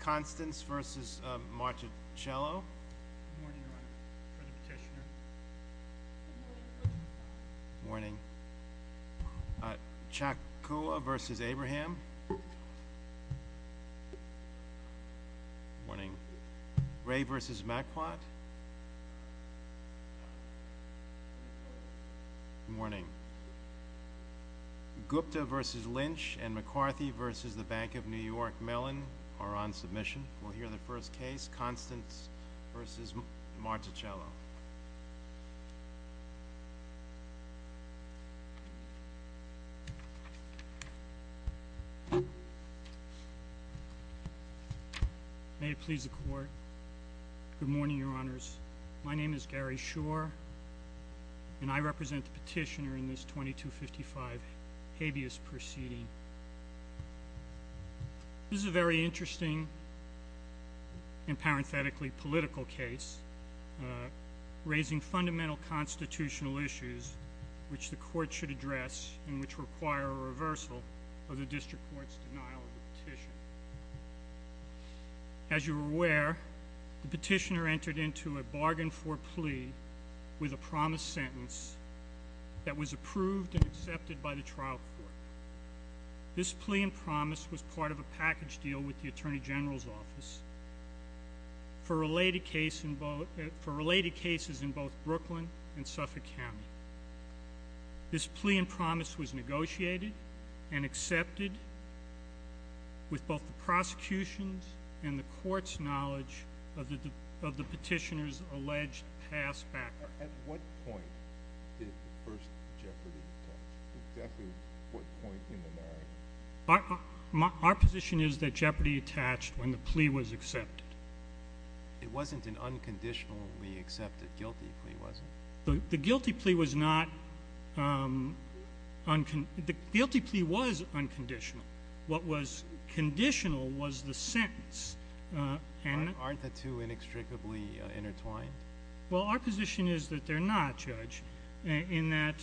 Constance v. Martuscello Chakua v. Abraham Ray v. Macquat Good morning. Gupta v. Lynch and McCarthy v. Bank of New York Mellon are on submission. We'll hear the first case, Constance v. Martuscello. May it please the court. Good morning, your honors. My name is Gary Shore and I represent the petitioner in this 2255 habeas proceeding. This is a very interesting and parenthetically political case, raising fundamental constitutional issues which the court should address and which require a reversal of the district court's denial of the petition. As you are aware, the petitioner entered into a bargain for plea with a promise sentence that was approved and accepted by the trial court. This plea and promise was part of a package deal with the attorney general's office for related cases in both Brooklyn and Suffolk County. This plea and promise was negotiated and accepted with both the prosecution's and the court's knowledge of the petitioner's alleged pass back. At what point did the first Jeopardy attached when the plea was accepted? It wasn't an unconditionally accepted guilty plea, was it? The guilty plea was unconditional. What was conditional was the sentence. Aren't the two inextricably intertwined? Well, our position is that they're not, Judge, in that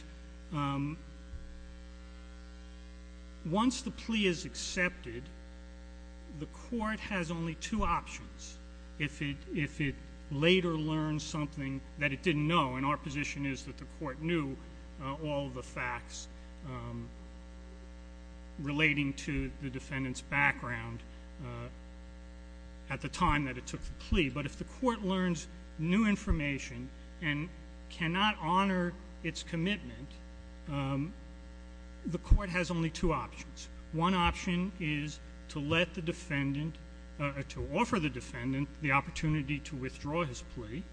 once the court has only two options, if it later learns something that it didn't know, and our position is that the court knew all the facts relating to the defendant's background at the time that it took the plea, but if the court learns new information and cannot honor its commitment, the court has only two options. One option is to let the defendant, to offer the defendant the opportunity to withdraw his plea,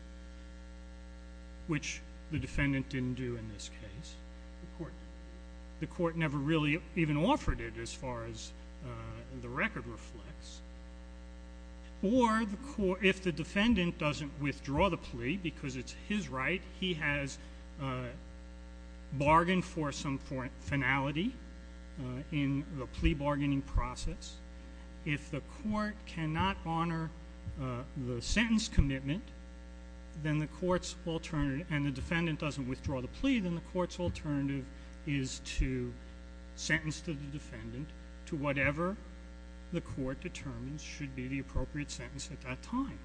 which the defendant didn't do in this case. The court never really even offered it as far as the record reflects. Or if the defendant doesn't withdraw the plea because it's his right, he has bargained for some finality in the plea bargaining process. If the court cannot honor the sentence commitment, then the court's alternative, and the defendant doesn't withdraw the plea, then the court's alternative is to sentence the defendant to whatever the court determines should be the appropriate sentence at that time.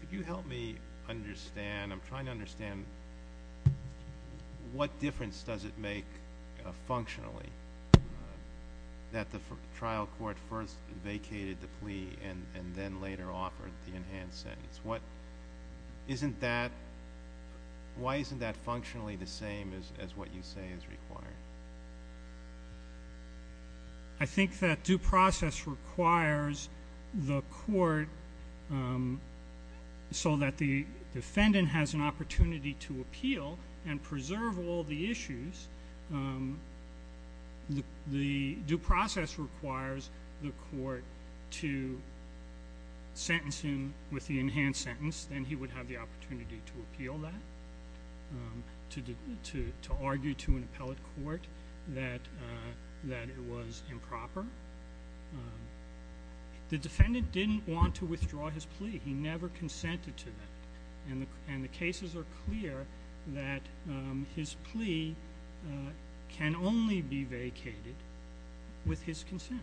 Could you help me understand, I'm trying to understand, what difference does it make functionally that the trial court first vacated the plea and then later offered the enhanced sentence? What, isn't that, why isn't that functionally the same as what you say is required? I think that due process requires the court so that the defendant has an opportunity to appeal and preserve all the issues. The due process requires the court to sentence him with the enhanced sentence, then he would have the opportunity to appeal that, to argue to an appellate court that it was improper. The defendant didn't want to withdraw his plea, he never consented to that, and the cases are clear that his plea can only be vacated with his consent,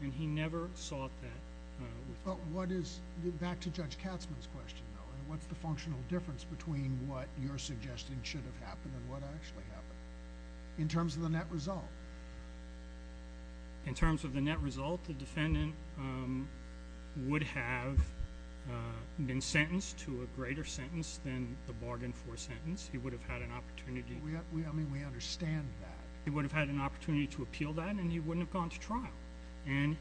and he never sought that with the court. But what is, back to Judge Katzmann's question, what's the functional difference between what you're suggesting should have happened and what actually happened, in terms of the net result? In terms of the net result, the defendant would have been sentenced to a greater sentence than the bargain for a sentence, he would have had an opportunity, I mean we understand that, he would have had an opportunity to appeal that and he wouldn't have gone to trial, and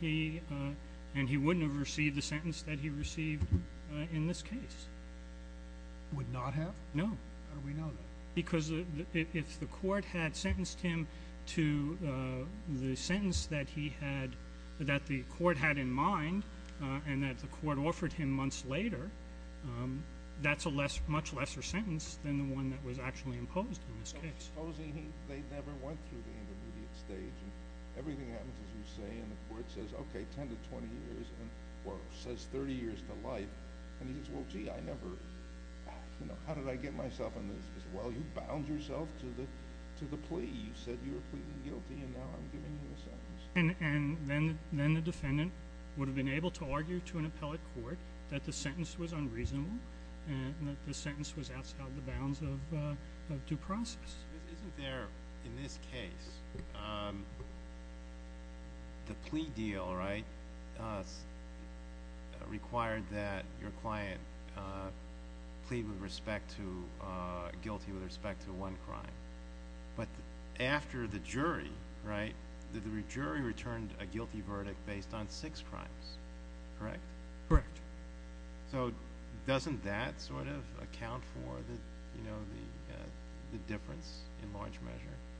he wouldn't have received the sentence that he received in this case. Would not have? No. How do we know that? Because if the court had sentenced him to the sentence that he had, that the court had in mind, and that the court offered him months later, that's a much lesser sentence than the one that was actually imposed in this case. Supposing they never went through the intermediate stage, and everything happens as you say, and the court says never, how did I get myself in this? Well, you bound yourself to the plea, you said you were pleading guilty, and now I'm giving you a sentence. And then the defendant would have been able to argue to an appellate court that the sentence was unreasonable, and that the sentence was outside the bounds of due process. Isn't there, in this case, the plea deal, right, required that your client plead with respect to, guilty with respect to one crime. But after the jury, right, the jury returned a guilty verdict based on six crimes, correct? Correct. So doesn't that sort of account for the difference in large part?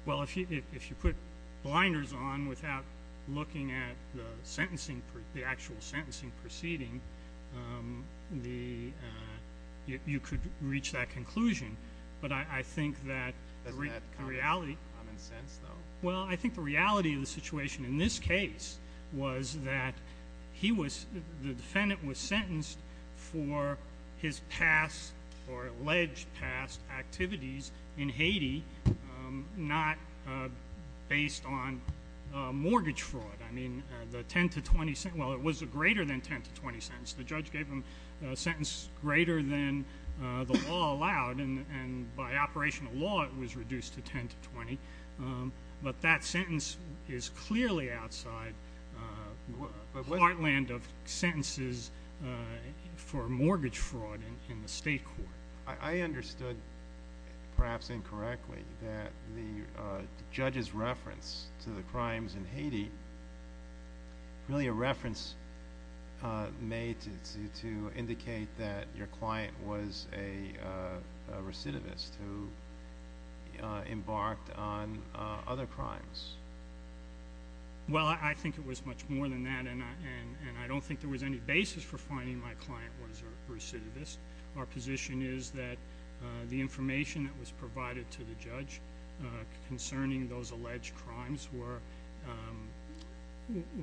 Well, you put blinders on without looking at the sentencing, the actual sentencing proceeding, you could reach that conclusion. But I think that the reality... Doesn't that come in common sense though? Well, I think the reality of the situation in this case was that he was, the defendant was sentenced for his past, or alleged past activities in Haiti, not based on mortgage fraud. I mean, the 10 to 20, well, it was a greater than 10 to 20 sentence. The judge gave him a sentence greater than the law allowed, and by operational law it was reduced to 10 to 20. But that sentence is clearly outside the heartland of sentences for mortgage fraud in the state court. I understood, perhaps incorrectly, that the judge's reference to the crimes in Haiti, really a reference made to indicate that your client was a recidivist who embarked on other crimes. Well, I think it was much more than that, and I don't think there was any basis for finding my client was a recidivist. Our position is that the crimes were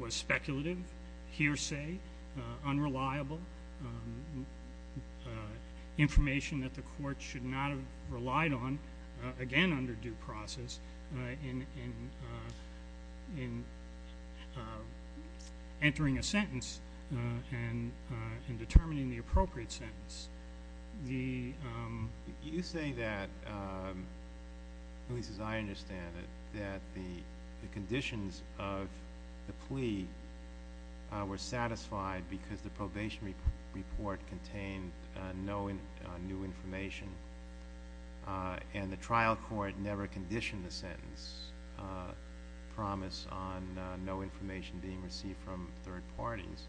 speculative, hearsay, unreliable, information that the court should not have relied on, again under due process, in entering a sentence and determining the appropriate sentence. You say that, at least as I understand it, that the judge's reference to the crimes in Haiti, the conditions of the plea, were satisfied because the probation report contained no new information, and the trial court never conditioned the sentence promise on no information being received from third parties.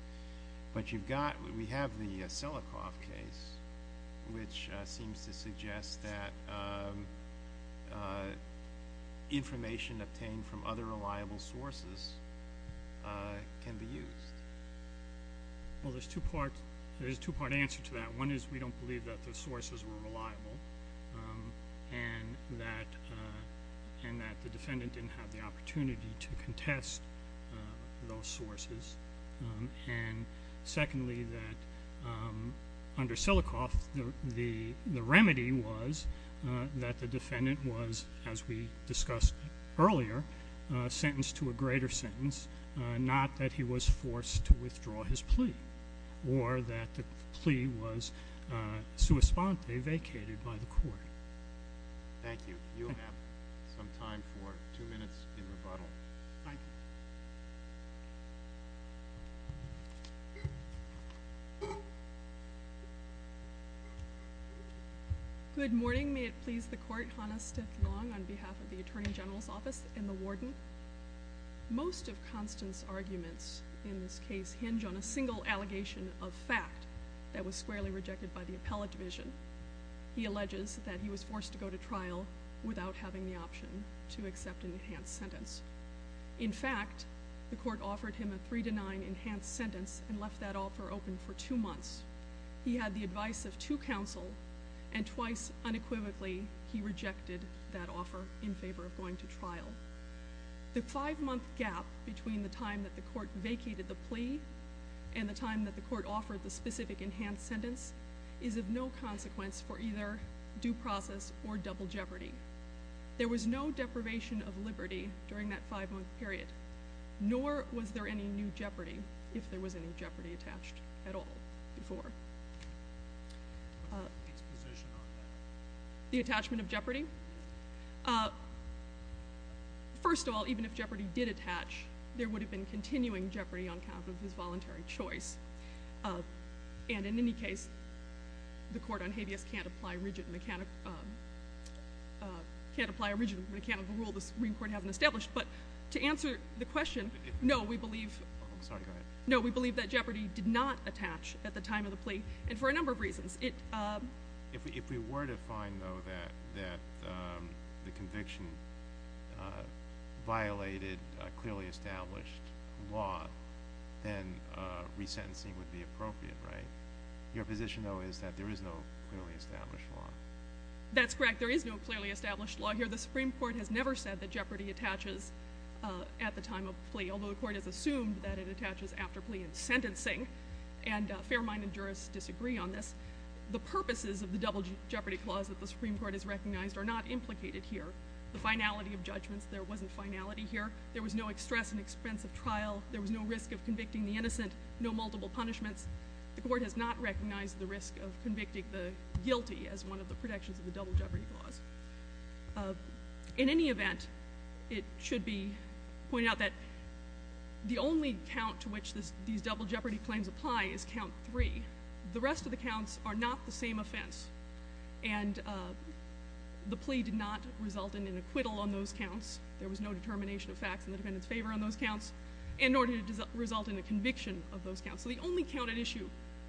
But you've got, we have the Celikoff case, which seems to suggest that information obtained from other reliable sources can be used. Well, there's two part answers to that. One is we don't believe that the sources were reliable, and that the defendant didn't have the opportunity to contest those sources. And secondly, that under Celikoff, the remedy was that the defendant was, as we discussed earlier, sentenced to a greater sentence, not that he was forced to withdraw his plea, or that the plea was sua sponte, vacated by the court. Thank you. You have some time for two minutes in rebuttal. Good morning. May it please the court, Hannah Stith-Long, on behalf of the Attorney General's Office and the Warden. Most of Constance's arguments in this case hinge on a single allegation of fact that was squarely rejected by the appellate division. He alleges that he was forced to go to trial without having the option to accept an enhanced sentence. In fact, the he had the advice of two counsel, and twice unequivocally, he rejected that offer in favor of going to trial. The five-month gap between the time that the court vacated the plea and the time that the court offered the specific enhanced sentence is of no consequence for either due process or double jeopardy. There was no deprivation of liberty during that five-month period, nor was there any new jeopardy, if there was any jeopardy attached at all before. The attachment of jeopardy? First of all, even if jeopardy did attach, there would have been continuing jeopardy on account of his voluntary choice. And in any case, the court on habeas can't apply a rigid mechanical rule the Supreme Court hasn't established. But to answer the question, no, we believe that jeopardy did not attach at the time of the plea, and for a number of reasons. If we were to find, though, that the conviction violated a clearly established law, then resentencing would be appropriate, right? Your position, though, is that there is no clearly established law. That's correct. There is no clearly established law here. The Supreme Court has never said that jeopardy attaches at the time of plea, although the court has assumed that it attaches after plea and sentencing, and fair-minded jurists disagree on this. The purposes of the double jeopardy clause that the Supreme Court has recognized are not implicated here. The finality of judgments, there wasn't finality here. There was no stress and expense of trial. There was no risk of convicting the innocent, no multiple punishments. The court has not recognized the risk of convicting the guilty as one of the protections of the double jeopardy clause. In any event, it should be pointed out that the only count to which these double jeopardy claims apply is count three. The rest of the counts are not the same offense, and the plea did not result in an acquittal on those counts. There was no determination of facts in the defendant's favor on those counts, and nor did it result in a conviction of those counts. So the only count at issue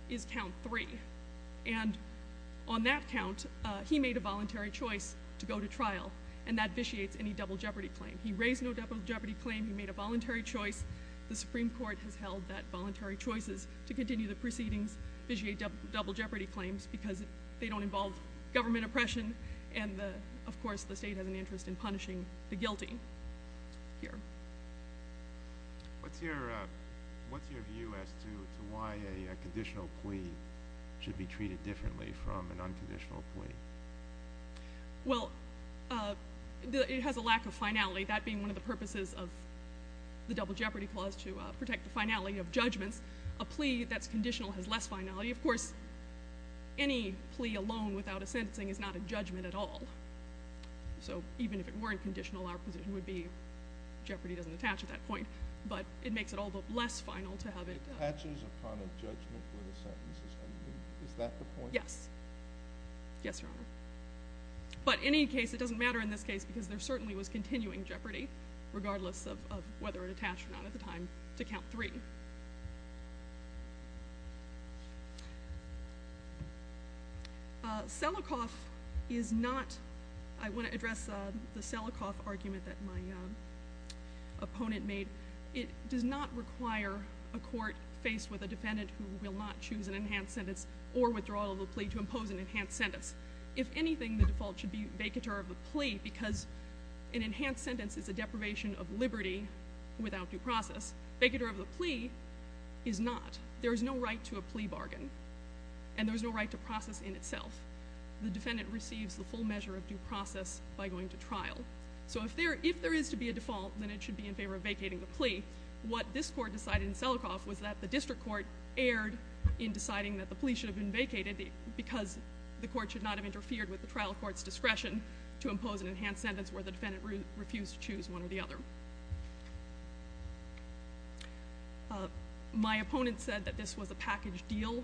is count three, and on that count, he made a voluntary choice to go to trial, and that vitiates any double jeopardy claim. He raised no double jeopardy claim. He made a voluntary choice. The Supreme Court has held that voluntary choices to continue the proceedings vitiate double jeopardy claims because they don't involve government oppression, and, of course, the state has an interest in punishing the guilty here. What's your view as to why a conditional plea should be treated differently from an unconditional plea? Well, it has a lack of finality, that being one of the purposes of the double jeopardy clause, to protect the finality of judgments. A plea that's conditional has less finality. Of course, any plea alone without a sentencing is not a judgment at all. So even if it were conditional, our position would be jeopardy doesn't attach at that point, but it makes it all the less final to have it... It attaches upon a judgment where the sentence is pending. Is that the point? Yes. Yes, Your Honor. But in any case, it doesn't matter in this case because there certainly was continuing jeopardy, regardless of whether it attached or not at the time, to count three. Selikoff is not... I want to address the Selikoff argument that my opponent made. It does not require a court faced with a defendant who will not choose an enhanced sentence or withdrawal of the plea to impose an enhanced sentence. If anything, the default should be vacatur of the plea because an enhanced sentence is a deprivation of liberty without due process. Vacatur of the plea is not. There is no right to a plea bargain and there is no right to process in itself. The defendant receives the full measure of due process by going to trial. So if there is to be a default, then it should be in favor of vacating the plea. What this court decided in Selikoff was that the district court erred in deciding that the plea should have been vacated because the court should not have interfered with the trial court's discretion to impose an enhanced sentence where the defendant refused to choose one or the other. My opponent said that this was a package deal.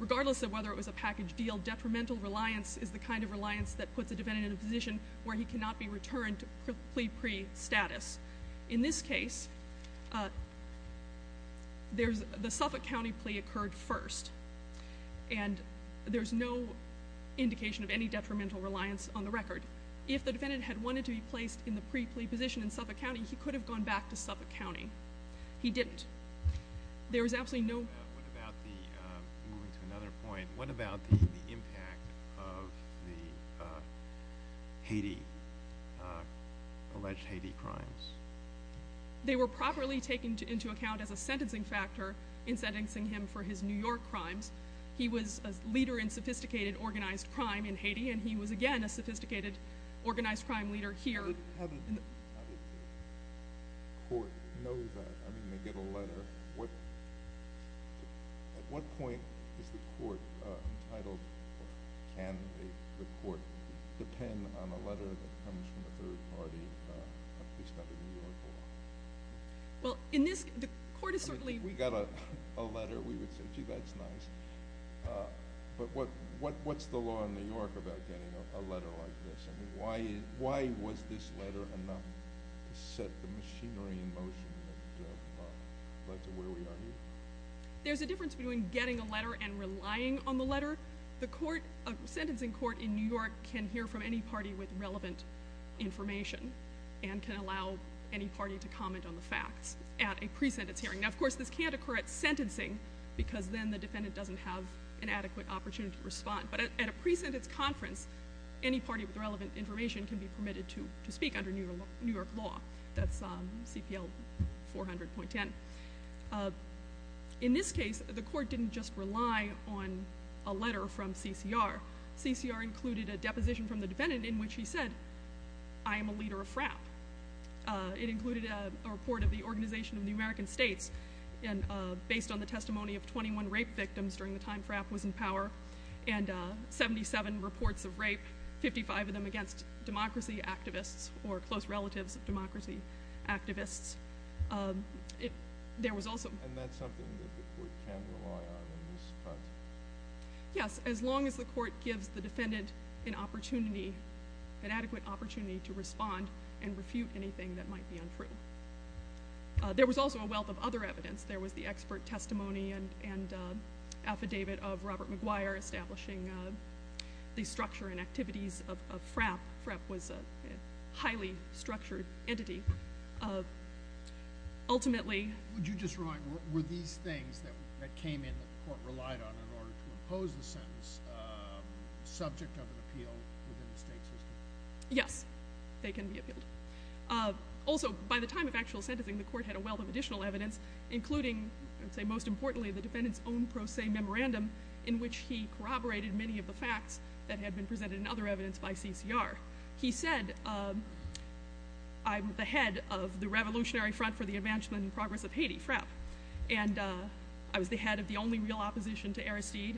Regardless of whether it was a package deal, detrimental reliance is the kind of reliance that puts a defendant in a position where he cannot be returned to plea pre-status. In this case, the Suffolk County plea occurred first and there's no indication of any detrimental reliance on the record. If the defendant had wanted to be placed in the plea position in Suffolk County, he could have gone back to Suffolk County. He didn't. There was absolutely no... What about the, moving to another point, what about the impact of the Haiti, alleged Haiti crimes? They were properly taken into account as a sentencing factor in sentencing him for his New York crimes. He was a leader in sophisticated organized crime in Haiti and he was again a sophisticated organized crime leader here. How did the court know that? I mean, they get a letter. At what point is the court entitled or can the court depend on a letter that comes from a third party, at least under the New York law? Well, in this, the court is certainly... If we got a letter, we would say, gee, that's nice. But what's the law in New York about getting a letter like this? I mean, why was this letter enough to set the machinery in motion that led to where we are here? There's a difference between getting a letter and relying on the letter. The court, a sentencing court in New York can hear from any party with relevant information and can allow any party with relevant information to respond. It can't occur at sentencing because then the defendant doesn't have an adequate opportunity to respond. But at a pre-sentence conference, any party with relevant information can be permitted to speak under New York law. That's CPL 400.10. In this case, the court didn't just rely on a letter from CCR. CCR included a deposition from the defendant in which he said, I am a leader of FRAP. It included a report of the Organization of the American States based on the testimony of 21 rape victims during the time FRAP was in power and 77 reports of rape, 55 of them against democracy activists or close relatives of democracy activists. There was also... And that's something that the court can rely on in this context? Yes, as long as the court gives the defendant an opportunity, an adequate opportunity to respond and refute anything that might be untrue. There was also a wealth of other evidence. There was the expert testimony and affidavit of Robert McGuire establishing the structure and activities of FRAP. FRAP was a highly structured entity. Ultimately... Would you just remind me, were these things that came in that the court relied on in order to impose the sentence subject of an appeal within the state system? Yes, they can be appealed. Also, by the time of actual sentencing, the court had a wealth of additional evidence, including, I would say most importantly, the defendant's own pro se memorandum in which he corroborated many of the facts that had been presented in other evidence by CCR. He said, I'm the head of the Revolutionary Front for the Advancement and Progress of Haiti, FRAP. And I was the head of the only real opposition to Aristide.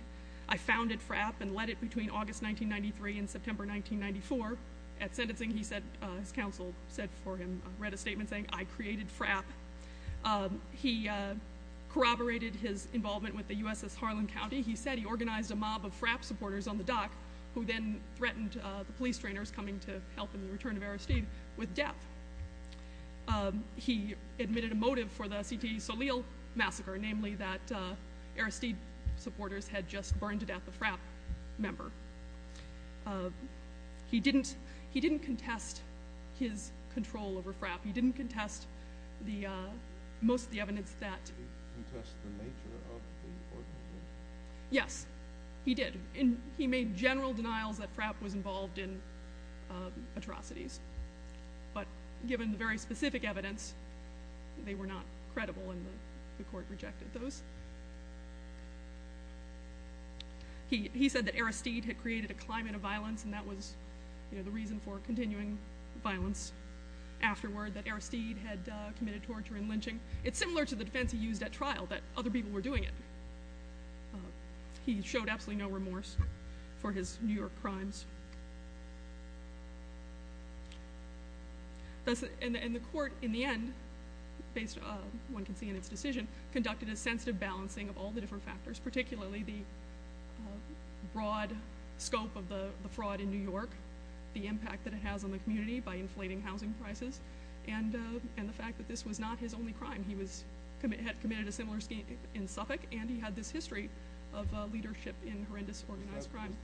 I founded FRAP and led it between August 1993 and September 1994. At sentencing, he said, his counsel said for him, read a statement saying, I created FRAP. He corroborated his involvement with the USS Harlan County. He said he organized a mob of FRAP supporters on the dock who then threatened the police trainers coming to help in the return of Aristide with death. He admitted a motive for the CT Solille massacre, namely that Aristide supporters had just burned to death a FRAP member. He didn't contest his control over FRAP. He didn't contest most of the evidence that... He contested the nature of the organization. Yes, he did. He made general denials that FRAP was involved in atrocities. But given the very specific evidence, they were not credible and the court rejected those. He said that Aristide had created a climate of violence and that was the reason for continuing violence afterward, that Aristide had committed torture and lynching. It's similar to the He showed absolutely no remorse for his New York crimes. And the court, in the end, based on one can see in its decision, conducted a sensitive balancing of all the different factors, particularly the broad scope of the fraud in New York, the impact that it has on the community by inflating housing prices, and the fact that this was not his only crime. He had committed a similar scheme in Suffolk and he had this history of leadership in horrendous organized crime.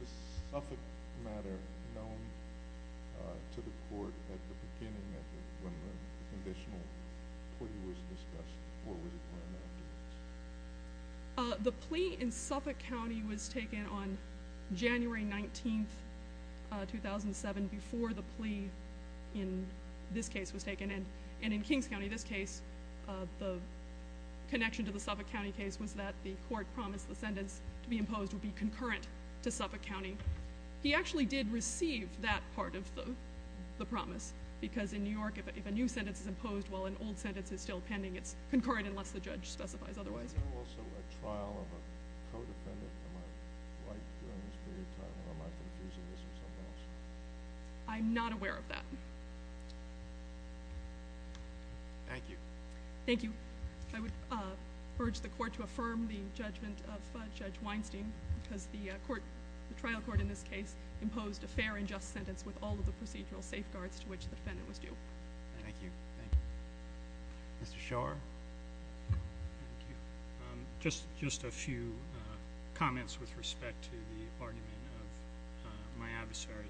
The plea in Suffolk County was taken on January 19, 2007, before the plea in this case was taken. And in Kings County, this case, the connection to the Suffolk County case was that the court promised the sentence to be imposed would be concurrent to Suffolk County. He actually did receive that part of the promise, because in New York, if a new sentence is imposed while an old sentence is still pending, it's concurrent unless the judge specifies otherwise. I'm not aware of that. Thank you. Thank you. I would urge the court to affirm the judgment of Judge Weinstein, because the trial court in this case imposed a fair and just sentence with all of the procedural safeguards to which the defendant was due. Thank you. Mr. Schauer? Just a few comments with respect to the argument of my adversary.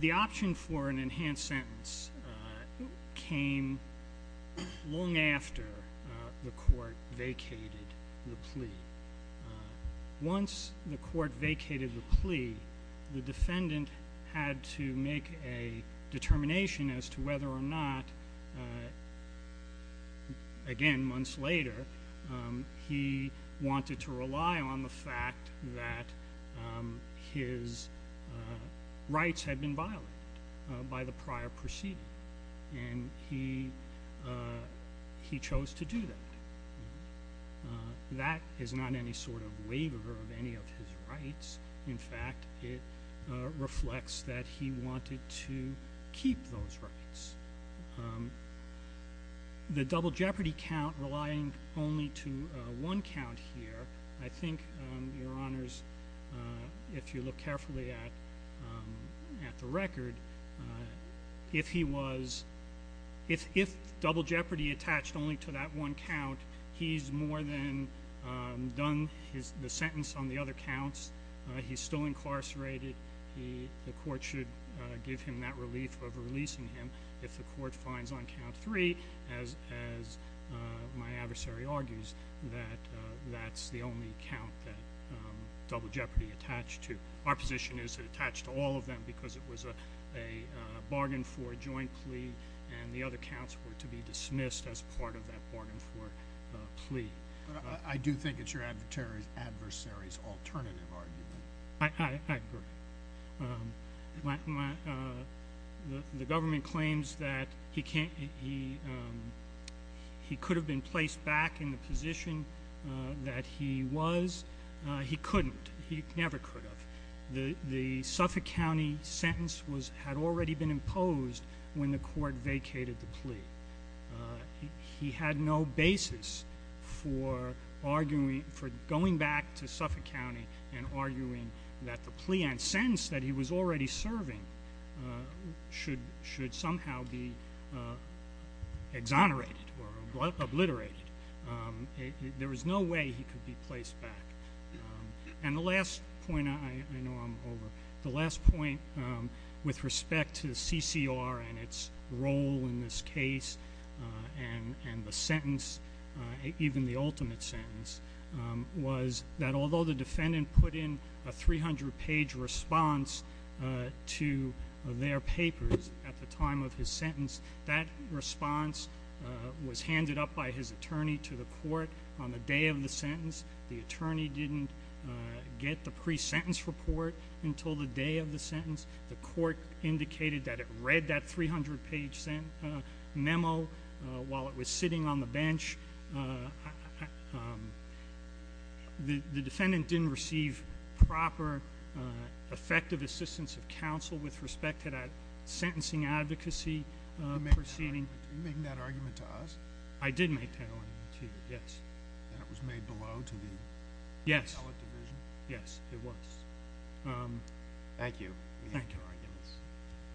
The option for an enhanced sentence came long after the court vacated the plea. Once the court vacated the plea, the defendant had to make a determination as to whether or not, again, months later, he wanted to rely on the fact that his rights had been violated by the prior proceeding. And he chose to do that. That is not any sort of waiver of any of his rights. In fact, it reflects that he wanted to keep those rights. The double jeopardy count, relying only to one count here, I think, Your Honors, if you look carefully at the record, if double jeopardy attached only to that one count, he's more than done the sentence on the other counts. He's still incarcerated. The court should give him that relief of releasing him if the court finds on count three, as my adversary argues, that that's the only count that double jeopardy attached to. Our position is that it attached to all of them because it was a bargain for a joint plea, and the other counts were to be dismissed as part of that bargain for a plea. I do think it's your adversary's alternative argument. I agree. The government claims that he could have been placed back in the position that he was. He couldn't. He never could have. The Suffolk County sentence had already been released. He had no basis for going back to Suffolk County and arguing that the plea and sentence that he was already serving should somehow be exonerated or obliterated. There was no way he could be placed back. The last point with respect to CCR and its role in this case and the sentence, even the ultimate sentence, was that although the defendant put in a 300-page response to their papers at the time of his sentence, that response was handed up by his attorney to the court on the day of the sentence. The attorney didn't get the pre-sentence report until the day of the sentence. The court indicated that it read that 300-page memo while it was sitting on the bench. The defendant didn't receive proper effective assistance of counsel with respect to that sentencing advocacy. You made that argument to us. I did make that argument to you, yes. Yes. Yes, it was. Thank you. Thank you.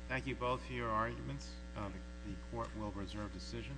Thank you both for your arguments. The court will reserve decision.